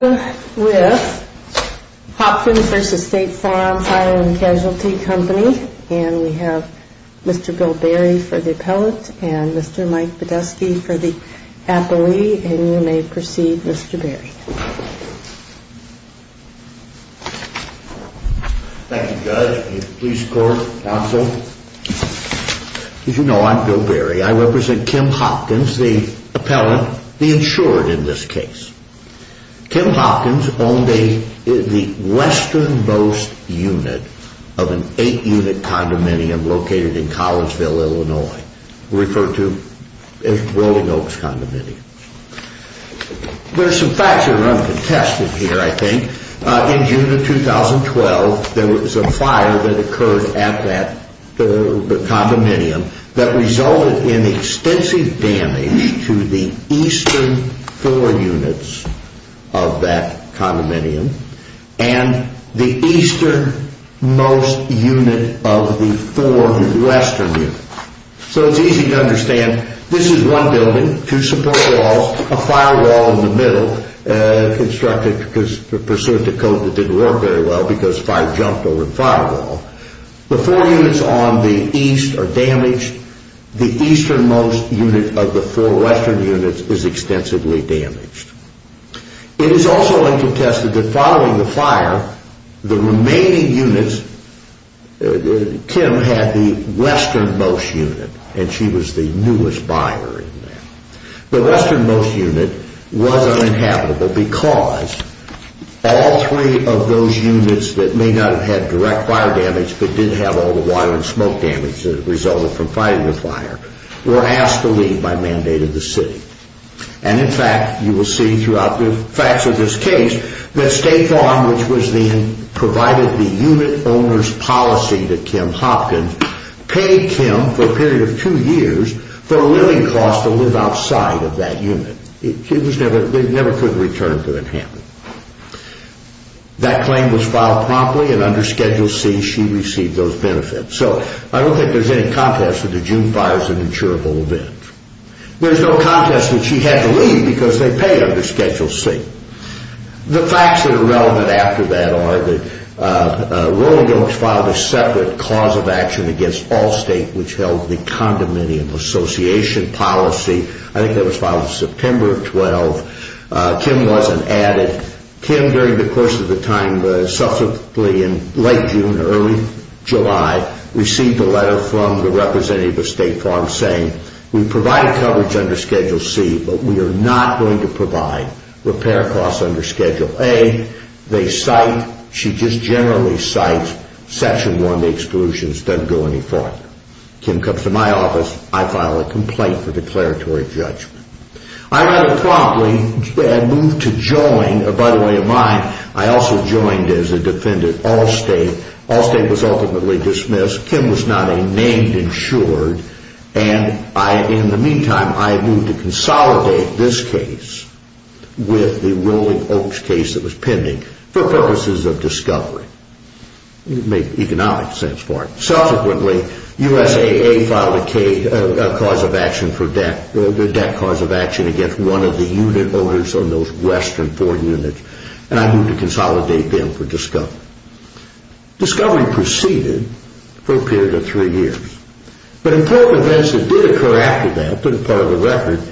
And we have Mr. Bill Berry for the appellate and Mr. Mike Podeski for the appellee, and you may proceed, Mr. Berry. Thank you, Judge and the Police Court, Counsel. As you know, I'm Bill Berry. I represent Kim Hopkins, the appellant, the insured in this case. Kim Hopkins owned the western most unit of an eight-unit condominium located in Collinsville, Illinois, referred to as Rolling Oaks Condominium. There are some facts that are uncontested here, I think. In June of 2012, there was a fire that occurred at that condominium that resulted in extensive damage to the eastern four units of that condominium and the eastern most unit of the four western units. So it's easy to understand. This is one building, two support walls, a firewall in the middle of the building, constructed to pursue a code that didn't work very well because fire jumped over the firewall. The four units on the east are damaged. The eastern most unit of the four western units is extensively damaged. It is also uncontested that following the fire, the remaining units, Kim had the western most unit, and she was the newest buyer in that. The western most unit was uninhabitable because all three of those units that may not have had direct fire damage but did have all the water and smoke damage that resulted from fighting the fire were asked to leave by mandate of the city. And in fact, you will see throughout the facts of this case that State Farm, which provided the unit owner's policy to Kim Hopkins, paid Kim for a period of two years for a living cost to live outside of that unit. They never could return to Manhattan. That claim was filed promptly, and under Schedule C, she received those benefits. So I don't think there's any contest that the June fire is an insurable event. There's no contest that she had to leave because they paid under Schedule C. The facts that are relevant after that are that Rolling Oaks filed a separate cause of action against Allstate, which held the condominium association policy. I think that was filed in September of 12. Kim wasn't added. Kim, during the course of the time, subsequently in late June or early July, received a letter from the representative of State Farm saying, we provided coverage under Schedule C, but we are not going to provide repair costs under Schedule A. They cite, she just generally cites Section 1, the exclusions, doesn't go any farther. Kim comes to my office, I file a complaint for declaratory judgment. I rather promptly had moved to join, by the way of mine, I also joined as a defendant Allstate. Allstate was ultimately dismissed. Kim was not a named insured. In the meantime, I moved to consolidate this case with the Rolling Oaks case that was pending for purposes of discovery, make economic sense for it. Subsequently, USAA filed a cause of action for debt, a debt cause of action against one of the unit owners on those western four units, and I moved to consolidate them for discovery. Discovery proceeded for a period of three years, but important events did occur after that, for the record,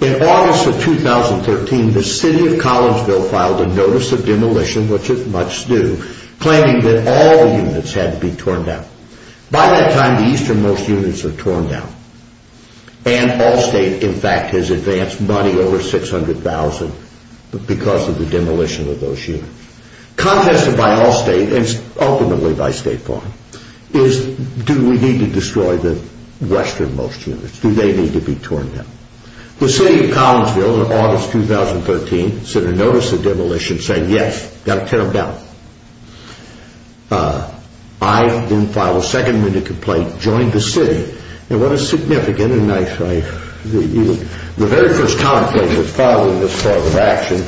in August of 2013, the city of Collinsville filed a notice of demolition, which is much due, claiming that all the units had to be torn down. By that time, the easternmost units were torn down, and Allstate, in fact, has advanced money over $600,000 because of the demolition of those units. Contested by Allstate, and ultimately by State Farm, is do we need to destroy the westernmost units? Do they need to be torn down? The city of Collinsville, in August of 2013, sent a notice of demolition saying, yes, we've got to tear them down. I then filed a second minute complaint, joined the city, and what a significant, and I, the very first comment that was filed in this cause of action,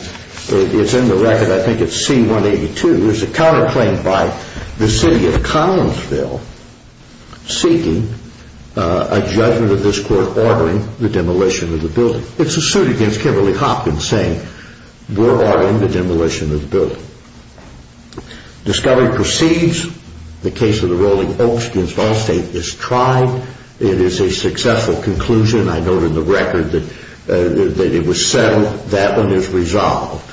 it's in the record, I think it's C-182, there's a counterclaim by the city of Collinsville seeking a judgment of this court ordering the demolition of the building. It's a suit against Kimberly Hopkins saying, we're ordering the demolition of the building. Discovery proceeds, the case of the Rolling Oaks against Allstate is tried, it is a successful conclusion, I note in the record that it was settled, that one is resolved,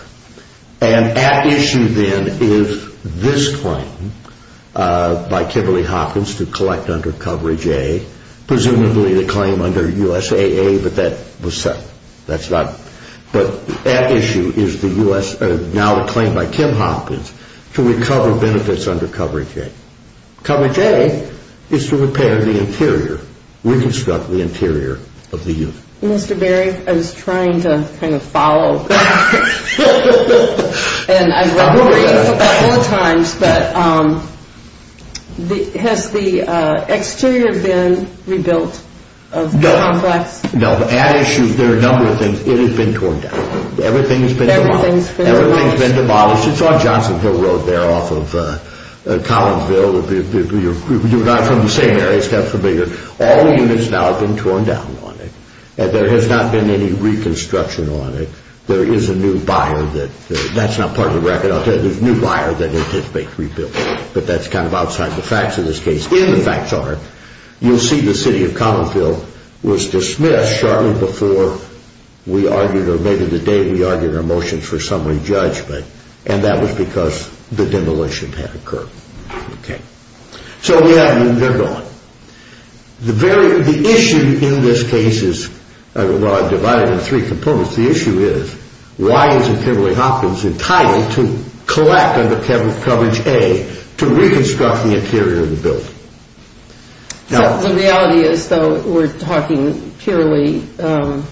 and at issue then is this claim by Kimberly Hopkins to collect under coverage A, presumably the claim under USAA, but that was settled, that's not, but at issue is the US, now the claim by Kim Hopkins to recover benefits under coverage A. Coverage A is to repair the interior, reconstruct the interior of the unit. Mr. Berry, I was trying to kind of follow, and I've read it a couple of times, but has the exterior been rebuilt of the complex? No, at issue, there are a number of things, it has been torn down, everything's been demolished, it's on Johnson Hill Road there off of Collinsville, you're not from the same area, all units now have been torn down on it, and there has not been any reconstruction on it, there is a new buyer, that's not part of the record, there's a new buyer that anticipates rebuilding, but that's kind of outside the facts of this case, in the facts are, you'll see the city of Collinsville was dismissed shortly before we argued, or maybe the day we argued our motion for summary judgment, and that was because the demolition had occurred. So we have a new buyer going, the issue in this case is, well I've divided it into three components, the issue is, why is it Kimberly Hopkins entitled to collect under coverage The reality is though, we're talking purely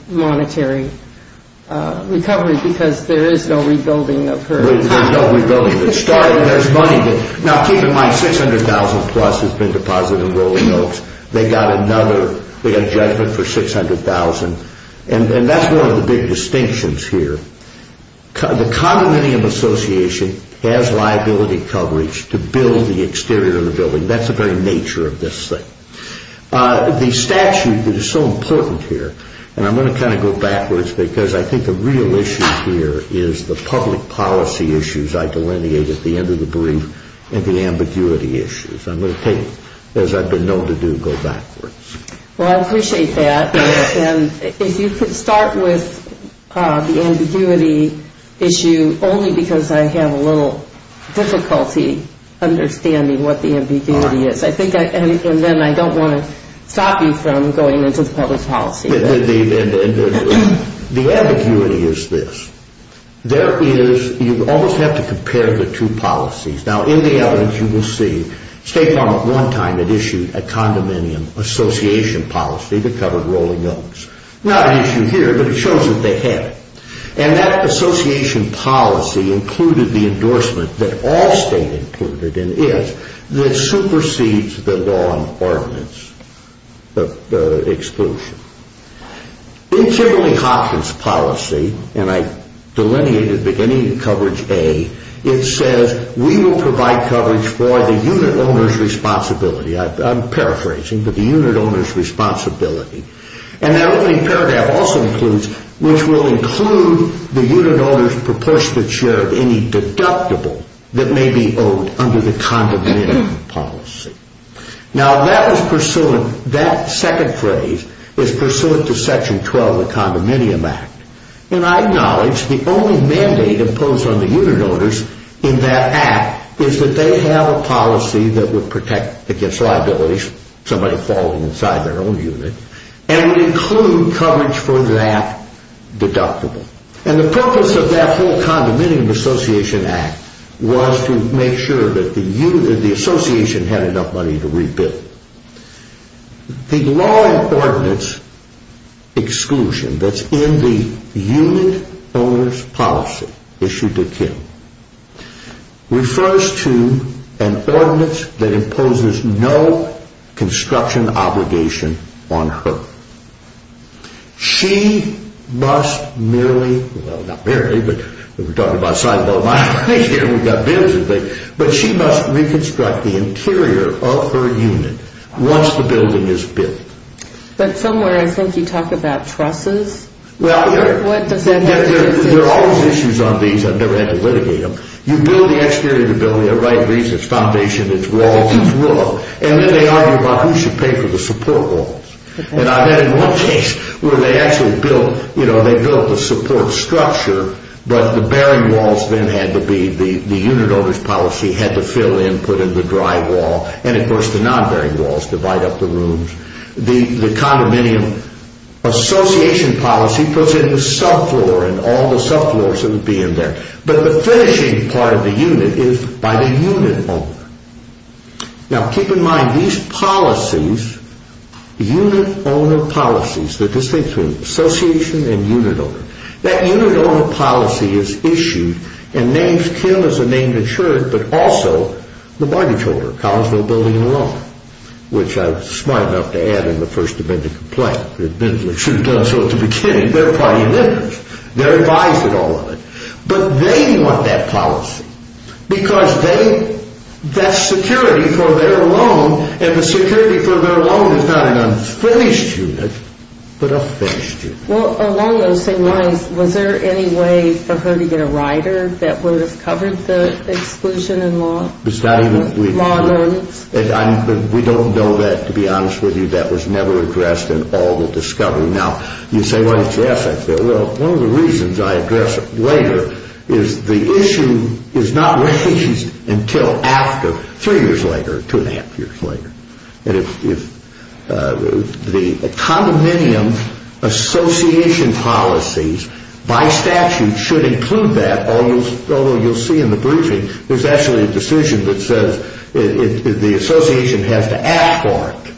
monetary recovery, because there is no rebuilding of her There's no rebuilding, there's money, now keep in mind, $600,000 plus has been deposited in Rolling Oaks, they got another, they got a judgment for $600,000, and that's one of the big distinctions here, the condominium association has liability coverage to build the exterior of the building, that's the very nature of this thing. The statute that is so important here, and I'm going to kind of go backwards, because I think the real issue here is the public policy issues I delineated at the end of the brief, and the ambiguity issues, I'm going to take, as I've been known to do, go backwards. Well I appreciate that, and if you could start with the ambiguity issue, only because I have a little difficulty understanding what the ambiguity is, and then I don't want to stop you from going into the public policy. The ambiguity is this, there is, you almost have to compare the two policies, now in the evidence you will see, State Farm at one time had issued a condominium association policy to cover Rolling Oaks, not an issue here, but it shows that they have, and that association policy included the endorsement that all state included, and is, that supersedes the law on ordinance exclusion. In Kimberly Hopkins policy, and I delineated beginning of coverage A, it says we will provide coverage for the unit owner's responsibility, I'm paraphrasing, but the unit owner's responsibility. And that opening paragraph also includes, which will include the unit owner's proportionate share of any deductible that may be owed under the condominium policy. Now that was pursuant, that second phrase is pursuant to section 12 of the condominium act, and I acknowledge the only mandate imposed on the unit owners in that act is that they have a policy that would protect against liabilities, somebody falling inside their own unit, and would include coverage for that deductible. And the purpose of that whole condominium association act was to make sure that the association had enough money to rebuild. The law on ordinance exclusion that's in the unit owner's policy, issued to Kim, refers to an ordinance that imposes no construction obligation on her. She must merely, well not merely, but we're talking about a sizeable amount of money here, but she must reconstruct the interior of her unit once the building is built. But somewhere I think you talk about trusses? Well, there are always issues on these, I've never had to litigate them. You build the exterior of the building for the right reasons, it's foundation, it's walls, it's wood, and then they argue about who should pay for the support walls. And I've had one case where they actually built, you know, they built the support structure, but the bearing walls then had to be, the unit owner's policy had to fill in, put in the dry wall, and of course the non-bearing walls divide up the rooms. The condominium association policy puts in the subfloor and all the subfloors that would be in there. But the finishing part of the unit is by the unit owner. Now keep in mind, these policies, unit owner policies, the distinction between association and unit owner, that unit owner policy is issued and names Kim as a named insured, but also the mortgage holder, Collinsville Building and Loan, which I was smart enough to add in the first amendment complaint. They should have done so at the beginning. They're party members. They're advised of all of it. But they want that policy because they, that security for their loan, and the security for their loan is not an unfinished unit, but a finished unit. Well, along those same lines, was there any way for her to get a rider that would have covered the exclusion in law? It's not even, we don't know that, to be honest with you. That was never addressed in all the discovery. Now, you say, well, it's yes. Well, one of the reasons I address it later is the issue is not raised until after, three years later, two and a half years later. And if the condominium association policies by statute should include that, although you'll see in the briefing, there's actually a decision that says the association has to ask for it.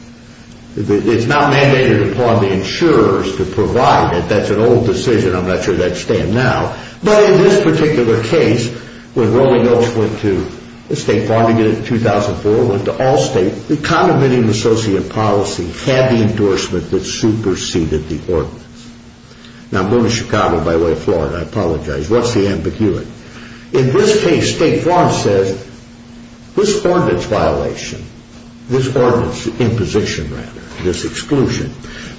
It's not mandated upon the insurers to provide it. That's an old decision. I'm not sure that would stand now. But in this particular case, when Rolling Oaks went to the state bar to get it in 2004, it went to all states. The condominium associate policy had the endorsement that superseded the ordinance. Now, I'm going to Chicago by way of Florida. I apologize. What's the ambiguity? In this case, State Farm says this ordinance violation, this ordinance imposition, rather, this exclusion,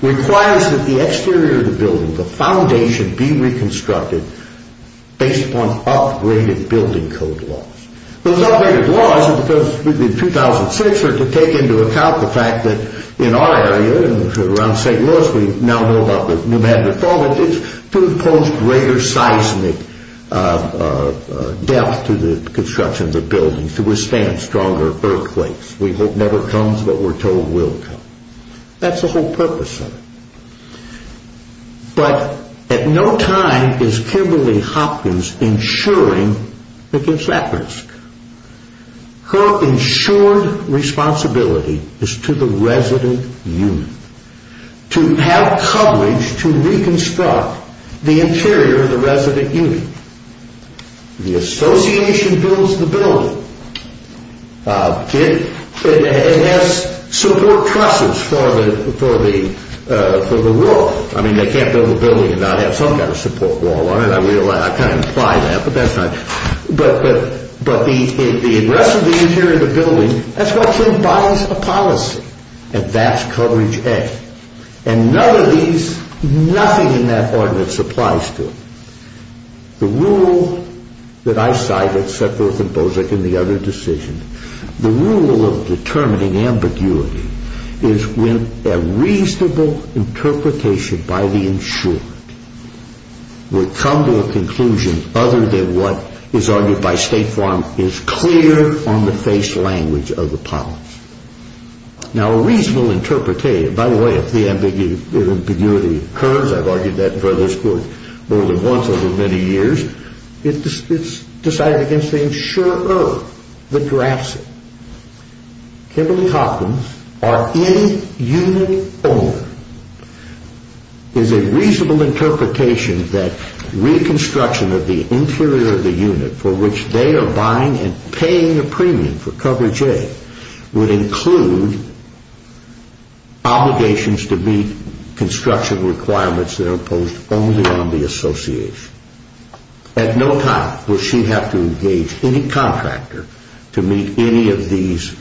requires that the exterior of the building, the foundation, be reconstructed based upon upgraded building code laws. Those upgraded laws are because, in 2006, are to take into account the fact that in our area, around St. Louis, we now know about the pneumatic fall, but it's to impose greater seismic depth to the construction of the building to withstand stronger earthquakes. We hope never comes, but we're told will come. That's the whole purpose of it. But at no time is Kimberly Hopkins insuring against that risk. Her insured responsibility is to the resident unit to have coverage to reconstruct the interior of the resident unit. The association builds the building. It has support trusses for the wall. I mean, they can't build a building and not have some kind of support wall on it. I kind of imply that, but that's not it. But the address of the interior of the building, that's why Kim buys a policy, and that's coverage A. And none of these, nothing in that ordinance applies to it. The rule that I cited set forth in Bozek and the other decisions, the rule of determining ambiguity is when a reasonable interpretation by the insured would come to a conclusion other than what is argued by State Farm is clear on the face language of the policy. Now, a reasonable interpretation, by the way, if the ambiguity occurs, I've argued that in front of this court more than once over many years, it's decided against the insurer that drafts it. Kimberly Hopkins, our in-unit owner, is a reasonable interpretation that reconstruction of the interior of the unit for which they are buying and paying a premium for coverage A would include obligations to meet construction requirements that are imposed only on the association. At no time will she have to engage any contractor to meet any of these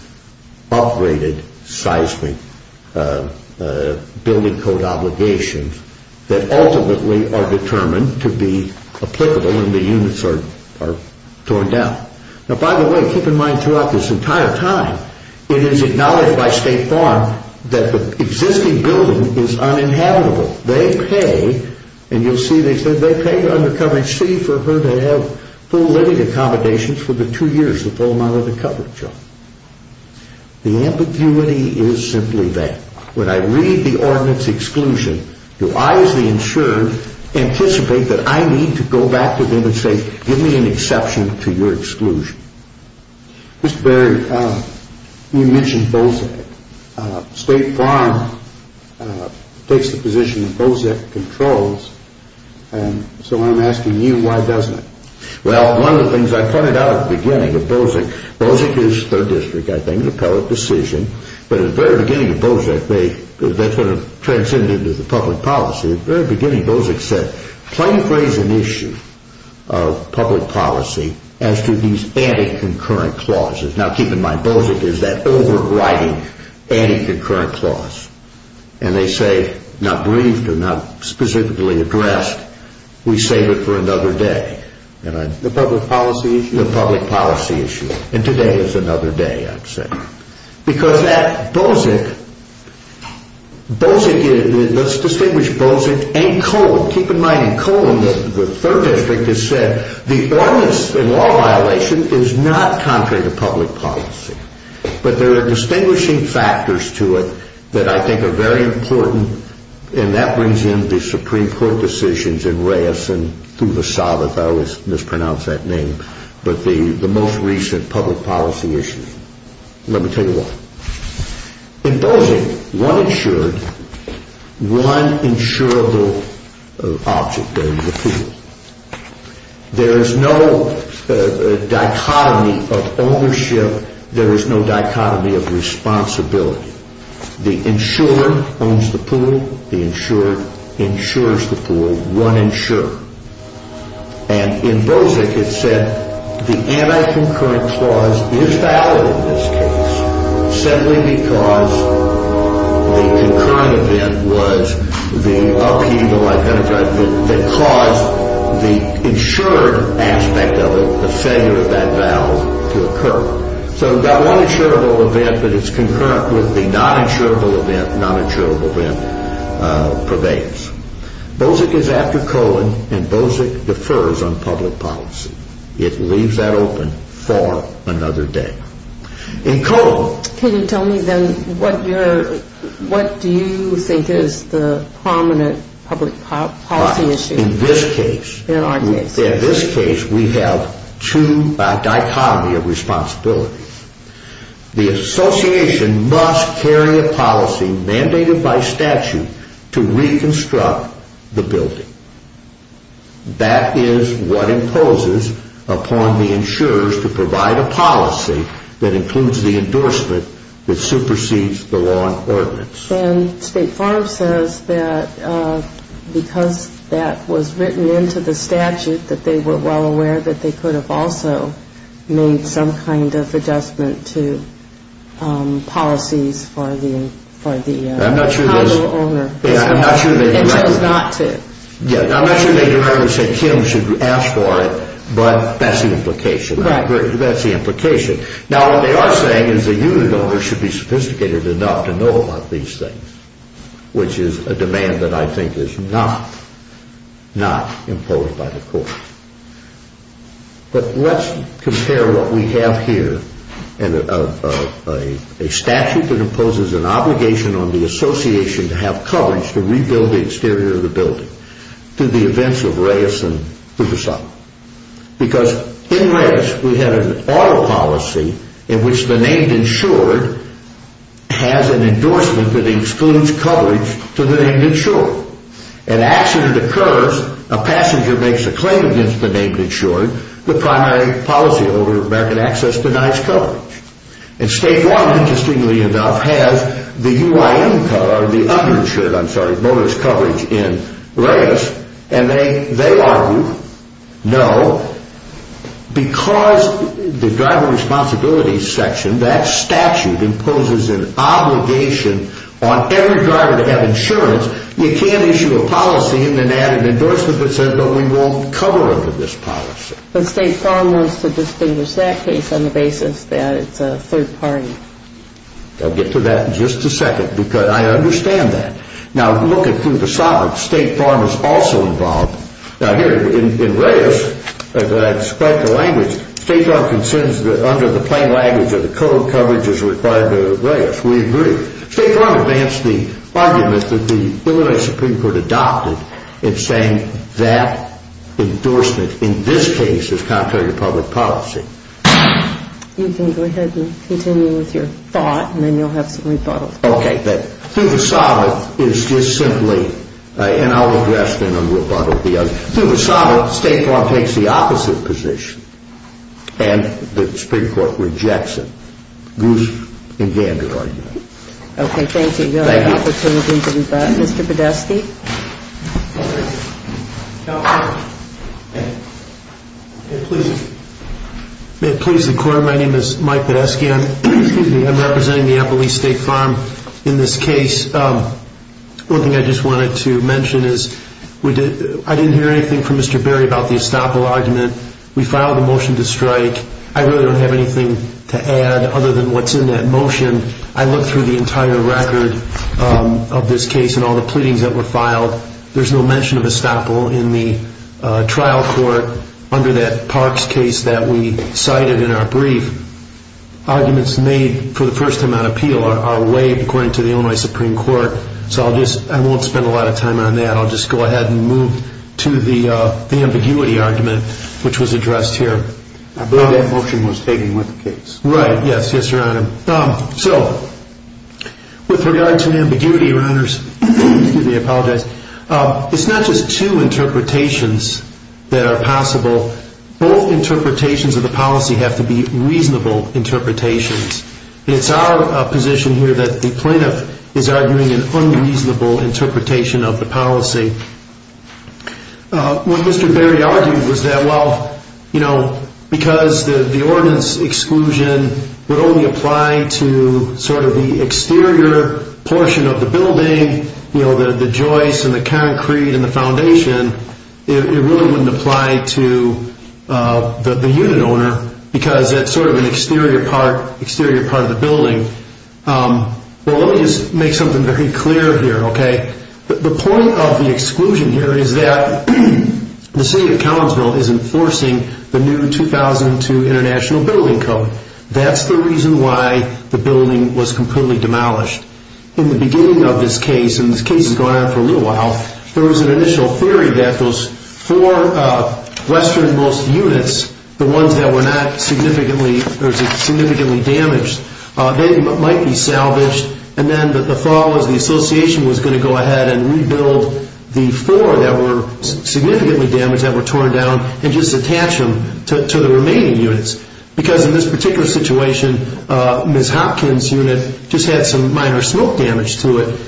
upgraded seismic building code obligations that ultimately are determined to be applicable when the units are torn down. Now, by the way, keep in mind throughout this entire time, it is acknowledged by State Farm that the existing building is uninhabitable. They pay, and you'll see they said they paid under coverage C for her to have full living accommodations for the two years, the full amount of the coverage. The ambiguity is simply that. When I read the ordinance exclusion, do I as the insured anticipate that I need to go back to them and say, give me an exception to your exclusion? Mr. Berry, you mentioned BOSEC. State Farm takes the position that BOSEC controls, so I'm asking you why doesn't it? Well, one of the things I pointed out at the beginning of BOSEC, BOSEC is third district, I think, an appellate decision, but at the very beginning of BOSEC, that sort of transcended into the public policy, at the very beginning, BOSEC said, plain phrase an issue of public policy as to these anti-concurrent clauses. Now, keep in mind, BOSEC is that overriding anti-concurrent clause, and they say, not briefed or not specifically addressed, we save it for another day. The public policy issue? Because at BOSEC, BOSEC, let's distinguish BOSEC and Cohen. Keep in mind, in Cohen, the third district has said, the ordinance in law violation is not contrary to public policy, but there are distinguishing factors to it that I think are very important, and that brings in the Supreme Court decisions in Reyes and through the Sabbath, I always mispronounce that name, but the most recent public policy issue. Let me tell you why. In BOSEC, one insured, one insurable object, there is a pool. There is no dichotomy of ownership, there is no dichotomy of responsibility. The insurer owns the pool, the insured insures the pool, one insurer. And in BOSEC, it said, the anti-concurrent clause is valid in this case, simply because the concurrent event was the upheaval, that caused the insured aspect of it, the failure of that vow to occur. So we've got one insurable event, but it's concurrent with the non-insurable event, non-insurable event prevails. BOSEC is after Cohen, and BOSEC defers on public policy. It leaves that open for another day. In Cohen... Can you tell me then, what do you think is the prominent public policy issue? Right, in this case. In our case. In this case, we have two dichotomies of responsibility. The association must carry a policy mandated by statute to reconstruct the building. That is what imposes upon the insurers to provide a policy that includes the endorsement that supersedes the law and ordinance. And State Farm says that because that was written into the statute, that they were well aware that they could have also made some kind of adjustment to policies for the title owner. I'm not sure they directly said Kim should ask for it, but that's the implication. Right. That's the implication. Now, what they are saying is the unit owner should be sophisticated enough to know about these things, which is a demand that I think is not imposed by the court. But let's compare what we have here, a statute that imposes an obligation on the association to have coverage to rebuild the exterior of the building, to the events of Reyes and Puget Sound. Because in Reyes, we had an auto policy in which the named insurer has an endorsement that excludes coverage to the named insurer. An accident occurs, a passenger makes a claim against the named insurer, the primary policy over American access denies coverage. And State Farm, interestingly enough, has the UIM cover, the uninsured, I'm sorry, motorist coverage in Reyes, and they argue, no, because the driver responsibilities section, that statute imposes an obligation on every driver to have insurance. You can't issue a policy and then add an endorsement that says that we won't cover under this policy. But State Farm wants to distinguish that case on the basis that it's a third party. I'll get to that in just a second because I understand that. Now, look at Puget Sound. State Farm is also involved. Now, here in Reyes, as I described the language, State Farm considers that under the plain language of the code, coverage is required to Reyes. We agree. State Farm advanced the argument that the Illinois Supreme Court adopted in saying that endorsement in this case is contrary to public policy. You can go ahead and continue with your thought, and then you'll have some rebuttals. Okay, but Puget Sound is just simply, and I'll address it in a rebuttal. Puget Sound, State Farm takes the opposite position, and the Supreme Court rejects it. Goose and Gander argue. Okay, thank you. You'll have an opportunity to rebut. Mr. Podeski. May it please the Court, my name is Mike Podeski. I'm representing the Appalachian State Farm in this case. One thing I just wanted to mention is I didn't hear anything from Mr. Berry about the Estoppel argument. We filed a motion to strike. I really don't have anything to add other than what's in that motion. I looked through the entire record of this case and all the pleadings that were filed. There's no mention of Estoppel in the trial court under that Parks case that we cited in our brief. Arguments made for the first time on appeal are waived according to the Illinois Supreme Court. So I won't spend a lot of time on that. I'll just go ahead and move to the ambiguity argument, which was addressed here. I believe that motion was taken with the case. Right, yes, yes, Your Honor. So, with regard to the ambiguity, Your Honors, excuse me, I apologize. It's not just two interpretations that are possible. Both interpretations of the policy have to be reasonable interpretations. It's our position here that the plaintiff is arguing an unreasonable interpretation of the policy. What Mr. Berry argued was that, well, you know, because the ordinance exclusion would only apply to sort of the exterior portion of the building, you know, the joists and the concrete and the foundation, it really wouldn't apply to the unit owner because that's sort of an exterior part of the building. Well, let me just make something very clear here, okay? The point of the exclusion here is that the City of Collinsville is enforcing the new 2002 International Building Code. That's the reason why the building was completely demolished. In the beginning of this case, and this case has gone on for a little while, there was an initial theory that those four westernmost units, the ones that were not significantly damaged, they might be salvaged, and then the thought was the Association was going to go ahead and rebuild the four that were significantly damaged, that were torn down, and just attach them to the remaining units. Because in this particular situation, Ms. Hopkins' unit just had some minor smoke damage to it.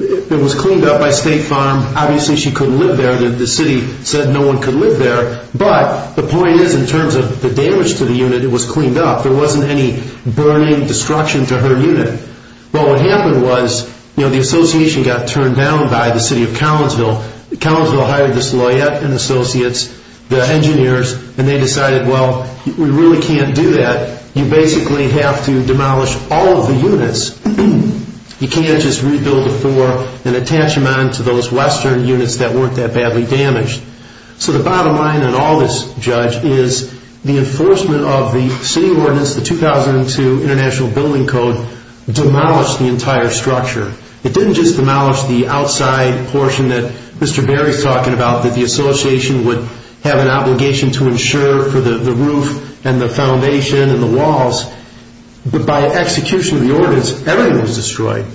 It was cleaned up by State Farm. Obviously, she couldn't live there. The City said no one could live there. But the point is, in terms of the damage to the unit, it was cleaned up. There wasn't any burning, destruction to her unit. But what happened was, you know, the Association got turned down by the City of Collinsville. Collinsville hired this lawyer and associates, the engineers, and they decided, well, we really can't do that. You basically have to demolish all of the units. You can't just rebuild the four and attach them onto those western units that weren't that badly damaged. So the bottom line in all this, Judge, is the enforcement of the City Ordinance, the 2002 International Building Code, demolished the entire structure. It didn't just demolish the outside portion that Mr. Berry is talking about, that the Association would have an obligation to ensure for the roof and the foundation and the walls. But by execution of the Ordinance, everything was destroyed.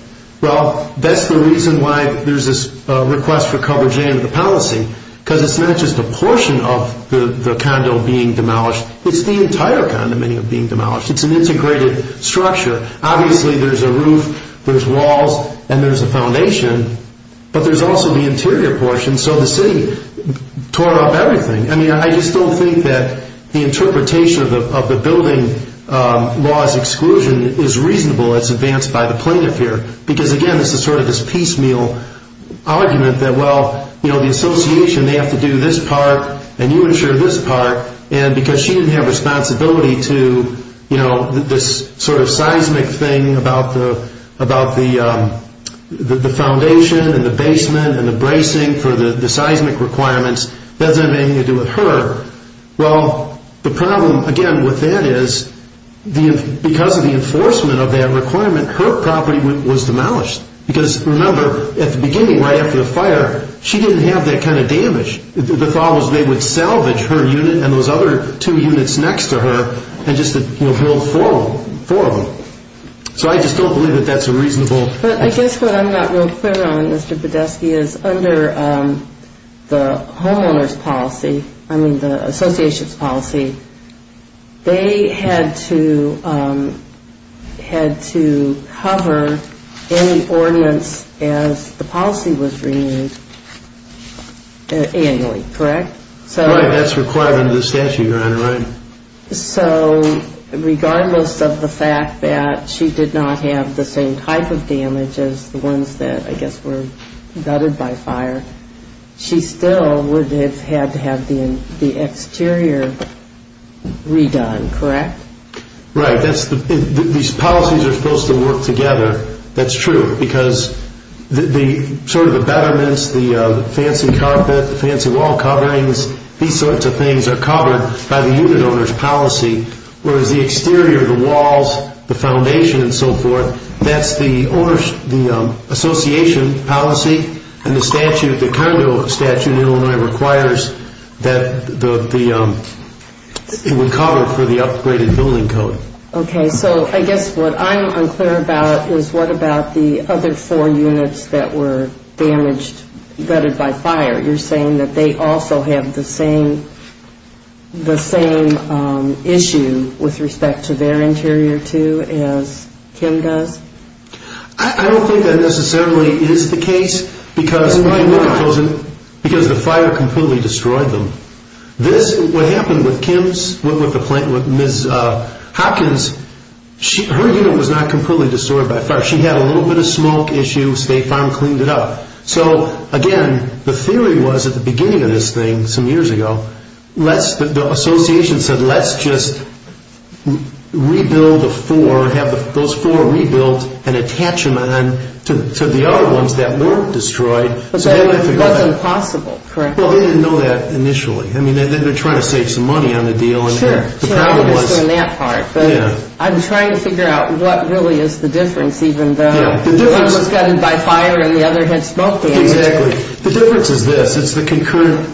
Well, that's the reason why there's this request for coverage in the policy, because it's not just a portion of the condo being demolished. It's the entire condominium being demolished. It's an integrated structure. Obviously, there's a roof, there's walls, and there's a foundation, but there's also the interior portion, so the City tore up everything. I just don't think that the interpretation of the building law's exclusion is reasonable. It's advanced by the plaintiff here. Because, again, this is sort of this piecemeal argument that, well, the Association, they have to do this part, and you ensure this part, and because she didn't have responsibility to this sort of seismic thing about the foundation and the basement and the bracing for the seismic requirements, that doesn't have anything to do with her. Well, the problem, again, with that is, because of the enforcement of that requirement, her property was demolished. Because, remember, at the beginning, right after the fire, she didn't have that kind of damage. The thought was they would salvage her unit and those other two units next to her and just build four of them. So I just don't believe that that's a reasonable... But I guess what I'm not real clear on, Mr. Podeski, is under the homeowners policy, I mean the Association's policy, they had to cover any ordinance as the policy was renewed. Annually, correct? Right. That's required under the statute, Your Honor. Right. So regardless of the fact that she did not have the same type of damage as the ones that, I guess, were gutted by fire, she still would have had to have the exterior redone, correct? Right. These policies are supposed to work together. That's true, because the sort of abetterments, the fancy carpet, the fancy wall coverings, these sorts of things are covered by the unit owner's policy, whereas the exterior, the walls, the foundation and so forth, that's the Association policy and the statute, the condo statute in Illinois requires that it would cover for the upgraded building code. Okay. So I guess what I'm unclear about is what about the other four units that were damaged, gutted by fire? You're saying that they also have the same issue with respect to their interior, too, as Kim does? I don't think that necessarily is the case, because the fire completely destroyed them. What happened with Kim's, with Ms. Hopkins, her unit was not completely destroyed by fire. She had a little bit of smoke issue, State Farm cleaned it up. So again, the theory was at the beginning of this thing, some years ago, the Association said let's just rebuild the four, have those four rebuilt and attach them on to the other ones that weren't destroyed. But that wasn't possible, correct? Well, they didn't know that initially. I mean, they're trying to save some money on the deal. Sure. I'm trying to figure out what really is the difference, even though one was gutted by fire and the other had smoke damage. Exactly. The difference is this. It's the concurrent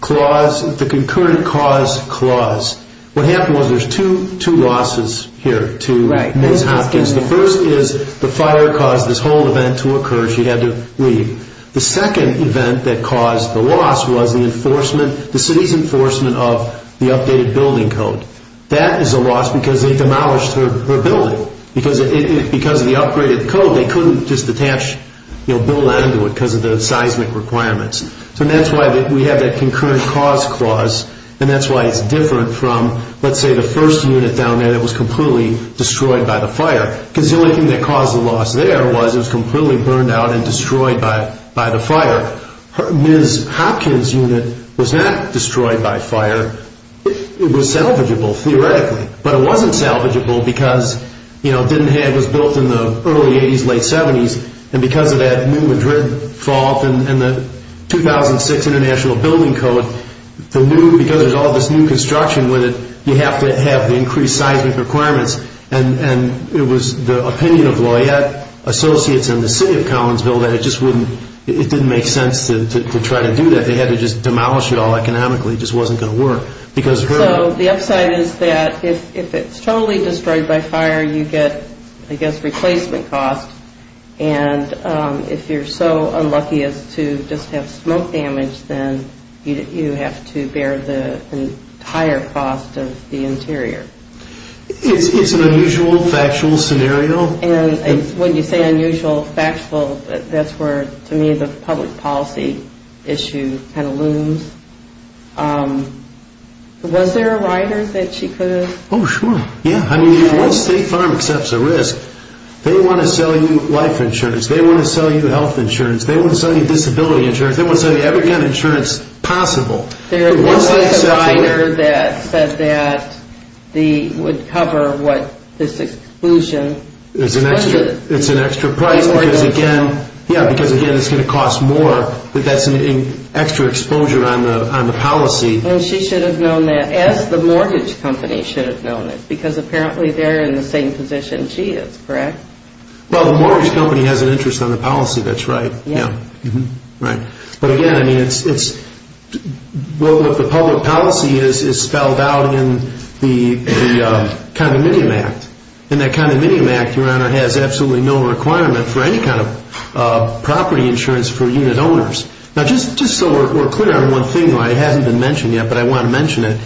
cause clause. What happened was there's two losses here to Ms. Hopkins. The first is the fire caused this whole event to occur. She had to leave. The second event that caused the loss was the city's enforcement of the updated building code. That is a loss because they demolished her building. Because of the upgraded code, they couldn't just build on to it because of the seismic requirements. So that's why we have that concurrent cause clause, and that's why it's different from, let's say, the first unit down there that was completely destroyed by the fire. Because the only thing that caused the loss there was it was completely burned out and destroyed by the fire. Ms. Hopkins' unit was not destroyed by fire. It was salvageable, theoretically. But it wasn't salvageable because it was built in the early 80s, late 70s, and because of that new Madrid fault and the 2006 International Building Code, because there's all this new construction with it, you have to have the increased seismic requirements. It was the opinion of Loyette Associates and the city of Collinsville that it didn't make sense to try to do that. They had to just demolish it all economically. It just wasn't going to work. So the upside is that if it's totally destroyed by fire, you get, I guess, replacement costs. And if you're so unlucky as to just have smoke damage, then you have to bear the entire cost of the interior. It's an unusual, factual scenario. And when you say unusual, factual, that's where, to me, the public policy issue kind of looms. Was there a rider that she could have? Oh, sure. Yeah. I mean, once State Farm accepts a risk, they want to sell you life insurance. They want to sell you health insurance. They want to sell you disability insurance. They want to sell you every kind of insurance possible. There was a rider that said that they would cover this exclusion. It's an extra price because, again, it's going to cost more. But that's an extra exposure on the policy. And she should have known that, as the mortgage company should have known it, because apparently they're in the same position she is, correct? Well, the mortgage company has an interest on the policy. That's right. But, again, I mean, the public policy is spelled out in the Condominium Act. And that Condominium Act, Your Honor, has absolutely no requirement for any kind of property insurance for unit owners. Now, just so we're clear on one thing that hasn't been mentioned yet, but I want to mention it.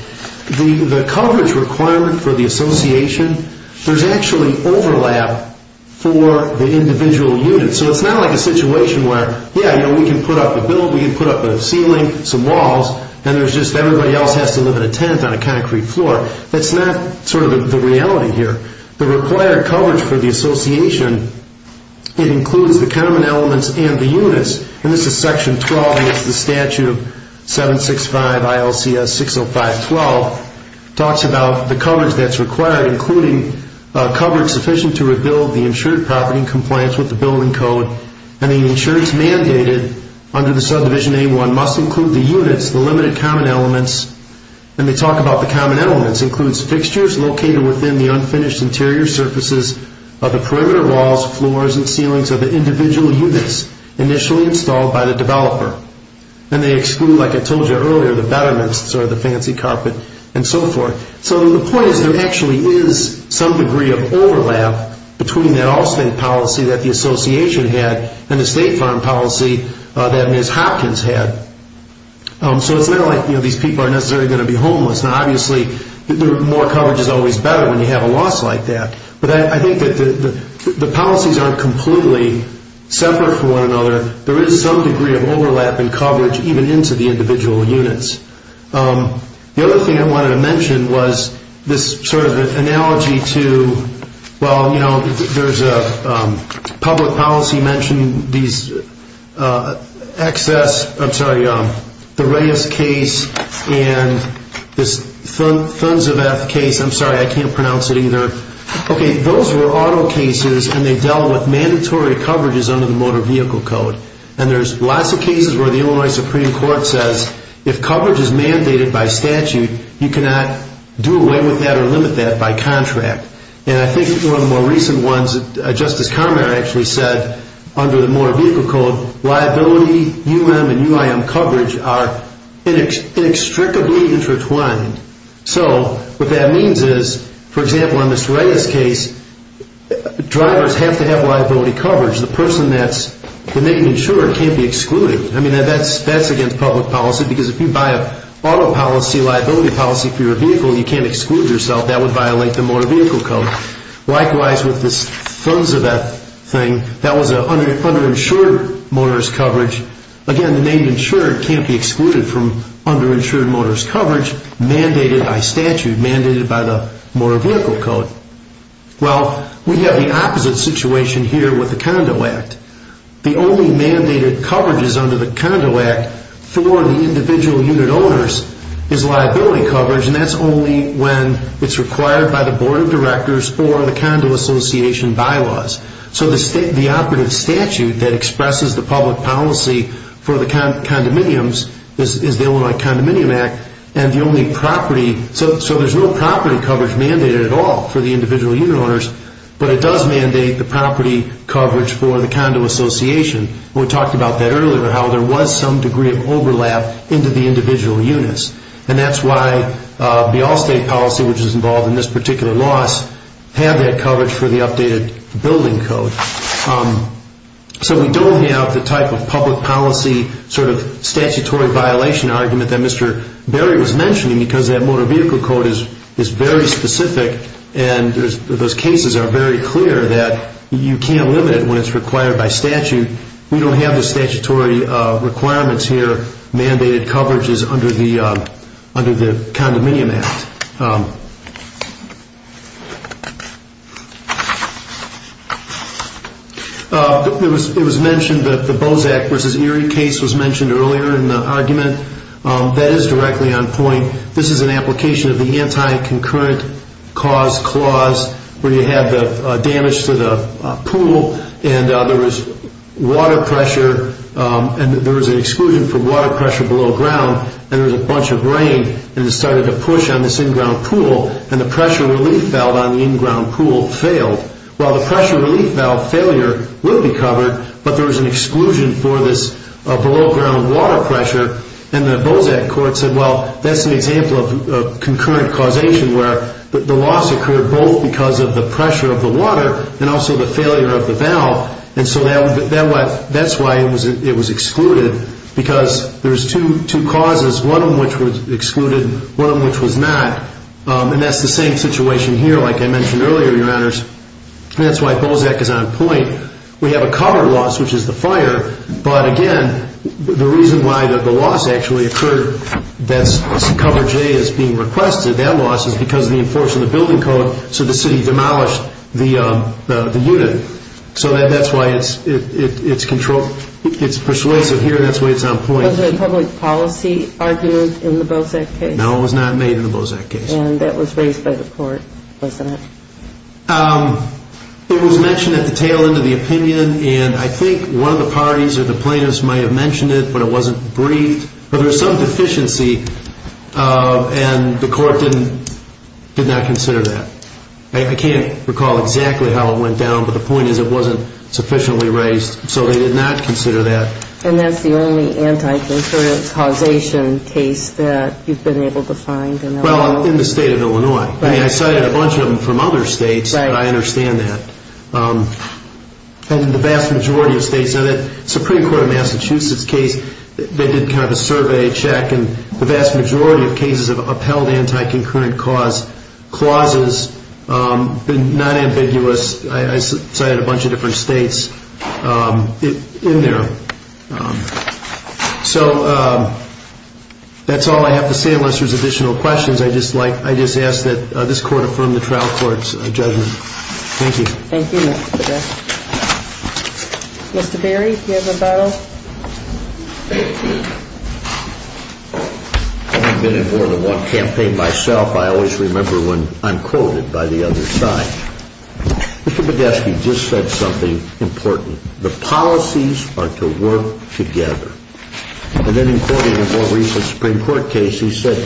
The coverage requirement for the association, there's actually overlap for the individual units. So it's not like a situation where, yeah, we can put up a building, we can put up a ceiling, some walls, and there's just everybody else has to live in a tent on a concrete floor. That's not sort of the reality here. The required coverage for the association, it includes the condominium elements and the units. And this is Section 12 against the Statute 765 ILCS 605-12. It talks about the coverage that's required, including coverage sufficient to rebuild the insured property in compliance with the building code. And the insured is mandated under the subdivision A-1 must include the units, the limited common elements. And they talk about the common elements includes fixtures located within the unfinished interior surfaces of the perimeter walls, floors, and ceilings of the individual units initially installed by the developer. And they exclude, like I told you earlier, the betterments or the fancy carpet and so forth. So the point is there actually is some degree of overlap between that all-state policy that the association had and the state farm policy that Ms. Hopkins had. So it's not like these people aren't necessarily going to be homeless. Now, obviously, more coverage is always better when you have a loss like that. But I think that the policies aren't completely separate from one another. There is some degree of overlap in coverage even into the individual units. The other thing I wanted to mention was this sort of analogy to, well, you know, there's a public policy mentioned, these excess, I'm sorry, the Reyes case and this Thunziveth case. I'm sorry, I can't pronounce it either. Okay, those were auto cases, and they dealt with mandatory coverages under the Motor Vehicle Code. And there's lots of cases where the Illinois Supreme Court says if coverage is mandated by statute, you cannot do away with that or limit that by contract. And I think one of the more recent ones, Justice Conrad actually said under the Motor Vehicle Code, liability, UM and UIM coverage are inextricably intertwined. So what that means is, for example, in this Reyes case, drivers have to have liability coverage. The person that's the main insurer can't be excluded. I mean, that's against public policy because if you buy an auto policy, liability policy for your vehicle, you can't exclude yourself. That would violate the Motor Vehicle Code. Likewise with this Thunziveth thing, that was underinsured motorist coverage. Again, the main insurer can't be excluded from underinsured motorist coverage mandated by statute, mandated by the Motor Vehicle Code. Well, we have the opposite situation here with the Condo Act. The only mandated coverages under the Condo Act for the individual unit owners is liability coverage, and that's only when it's required by the board of directors or the condo association bylaws. So the operative statute that expresses the public policy for the condominiums is the Illinois Condominium Act, so there's no property coverage mandated at all for the individual unit owners, but it does mandate the property coverage for the condo association. We talked about that earlier, how there was some degree of overlap into the individual units, and that's why the Allstate policy, which is involved in this particular loss, had that coverage for the updated building code. So we don't have the type of public policy sort of statutory violation argument that Mr. Berry was mentioning because that Motor Vehicle Code is very specific, and those cases are very clear that you can't limit it when it's required by statute. We don't have the statutory requirements here, mandated coverages under the Condominium Act. It was mentioned that the Bozak v. Erie case was mentioned earlier in the argument. That is directly on point. This is an application of the anti-concurrent cause clause where you have the damage to the pool and there was water pressure, and there was an exclusion for water pressure below ground, and there was a bunch of rain, and it started to push on this in-ground pool, and the pressure relief valve on the in-ground pool failed. Well, the pressure relief valve failure will be covered, but there was an exclusion for this below ground water pressure, and the Bozak court said, well, that's an example of concurrent causation where the loss occurred both because of the pressure of the water and also the failure of the valve, and so that's why it was excluded because there's two causes, one of which was excluded, one of which was not, and that's the same situation here like I mentioned earlier, Your Honors, and that's why Bozak is on point. We have a cover loss, which is the fire, but again, the reason why the loss actually occurred that's coverage A is being requested, that loss is because of the enforcement of the building code, so the city demolished the unit. So that's why it's persuasive here. That's why it's on point. Was there a public policy argument in the Bozak case? No, it was not made in the Bozak case. And that was raised by the court, wasn't it? It was mentioned at the tail end of the opinion, and I think one of the parties or the plaintiffs might have mentioned it, but it wasn't briefed, but there was some deficiency, and the court did not consider that. I can't recall exactly how it went down, but the point is it wasn't sufficiently raised, so they did not consider that. And that's the only anti-concurrent causation case that you've been able to find in Illinois? Well, in the state of Illinois. I mean, I cited a bunch of them from other states, but I understand that. And the vast majority of states, now the Supreme Court of Massachusetts case, they did kind of a survey check, and the vast majority of cases have upheld anti-concurrent cause clauses, but not ambiguous. I cited a bunch of different states in there. So that's all I have to say, unless there's additional questions. I just ask that this Court affirm the trial court's judgment. Thank you. Thank you, Mr. Baird. Mr. Barry, do you have a bottle? Well, I've been in more than one campaign myself. I always remember when I'm quoted by the other side. Mr. Podeski just said something important. The policies are to work together. And then in quoting a more recent Supreme Court case, he said,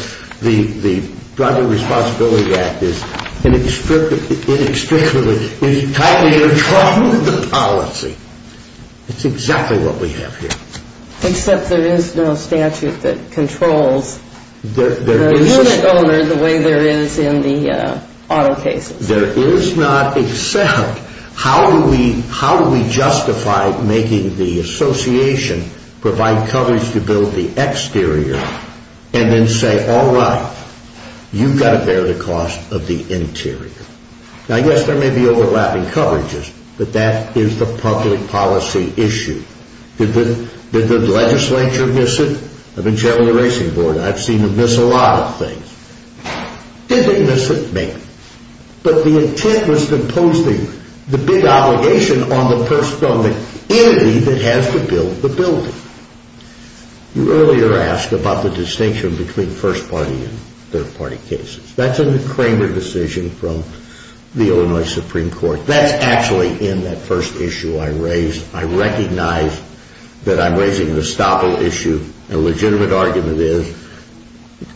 the Drug and Responsibility Act is inextricably entwined with the policy. It's exactly what we have here. Except there is no statute that controls the unit owner the way there is in the auto cases. There is not except. How do we justify making the association provide coverage to build the exterior and then say, all right, you've got to bear the cost of the interior? Now, yes, there may be overlapping coverages, but that is the public policy issue. Did the legislature miss it? I've been chairman of the Racing Board. I've seen them miss a lot of things. Did they miss it? Maybe. But the intent was to impose the big obligation on the person, on the entity that has to build the building. You earlier asked about the distinction between first-party and third-party cases. That's a Kramer decision from the Illinois Supreme Court. That's actually in that first issue I raised. I recognize that I'm raising an estoppel issue. A legitimate argument is,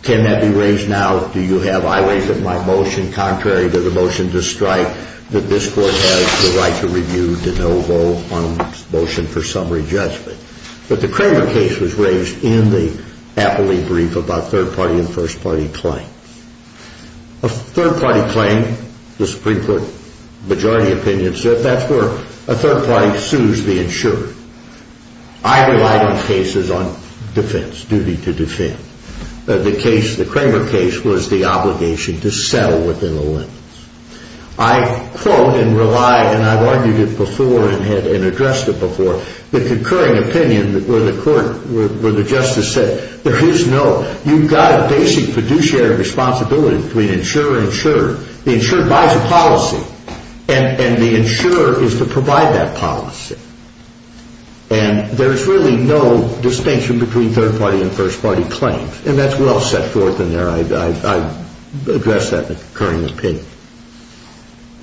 can that be raised now? Do you have highways that might motion contrary to the motion to strike that this court has the right to review to no vote on a motion for summary judgment? But the Kramer case was raised in the appellee brief about third-party and first-party claims. A third-party claim, the Supreme Court majority opinion said, that's where a third-party sues the insurer. I relied on cases on defense, duty to defend. The Kramer case was the obligation to settle within the limits. I quote and rely, and I've argued it before and addressed it before, the concurring opinion where the court, where the justice said, there is no, you've got a basic fiduciary responsibility between insurer and insurer. The insurer buys a policy, and the insurer is to provide that policy. And there's really no distinction between third-party and first-party claims. And that's well set forth in there. I've addressed that in the concurring opinion.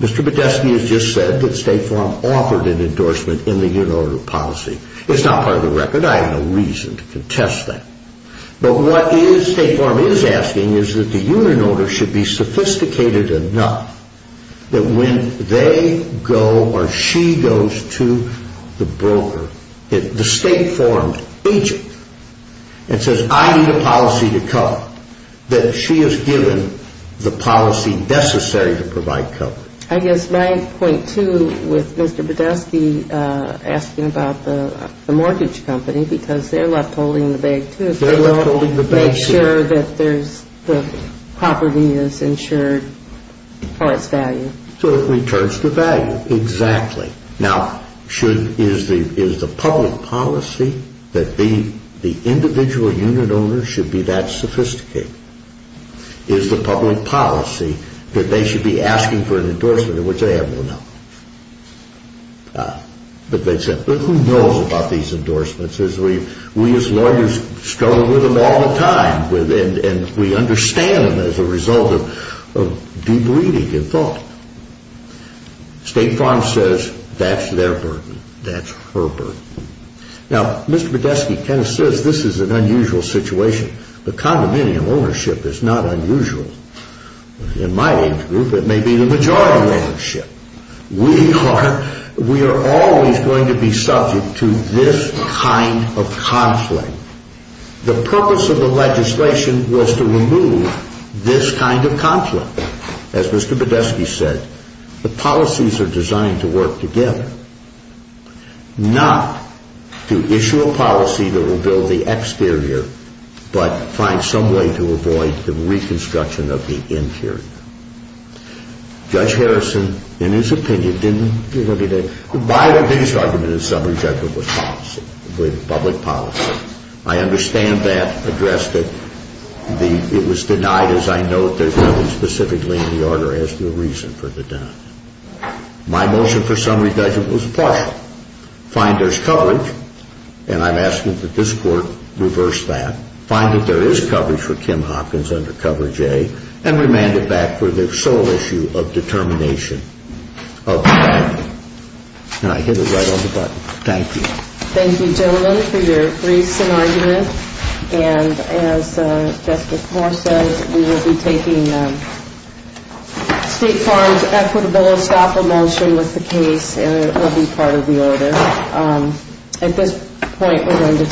Mr. Podesta has just said that State Farm offered an endorsement in the union order policy. It's not part of the record. I have no reason to contest that. But what State Farm is asking is that the union owner should be sophisticated enough that when they go or she goes to the broker, the State Farm agent, and says, I need a policy to cover, that she is given the policy necessary to provide cover. I guess my point, too, with Mr. Podesta asking about the mortgage company, because they're left holding the bag, too. They're left holding the bag, too. They want to make sure that the property is insured for its value. So it returns to value. Exactly. Now, is the public policy that the individual union owner should be that sophisticated? Is the public policy that they should be asking for an endorsement in which they have no knowledge? But who knows about these endorsements? We, as lawyers, struggle with them all the time, and we understand them as a result of deep reading and thought. State Farm says that's their burden. That's her burden. Now, Mr. Podesta kind of says this is an unusual situation. The condominium ownership is not unusual. In my age group, it may be the majority ownership. We are always going to be subject to this kind of conflict. The purpose of the legislation was to remove this kind of conflict. As Mr. Podesta said, the policies are designed to work together, not to issue a policy that will build the exterior but find some way to avoid the reconstruction of the interior. Judge Harrison, in his opinion, didn't look at it. My biggest argument, in summary, Judge, was policy, public policy. I understand that address that it was denied, as I note, there's nothing specifically in the order as to the reason for the denial. My motion for summary, Judge, was a partial. Find there's coverage, and I'm asking that this Court reverse that. Find that there is coverage for Kim Hopkins under coverage A and remand it back for the sole issue of determination. And I hit it right on the button. Thank you. Thank you, gentlemen, for your briefs and argument. And as Justice Moore said, we will be taking State Farm's equitable stop a motion with the case, and it will be part of the order. At this point, we're going to take a break.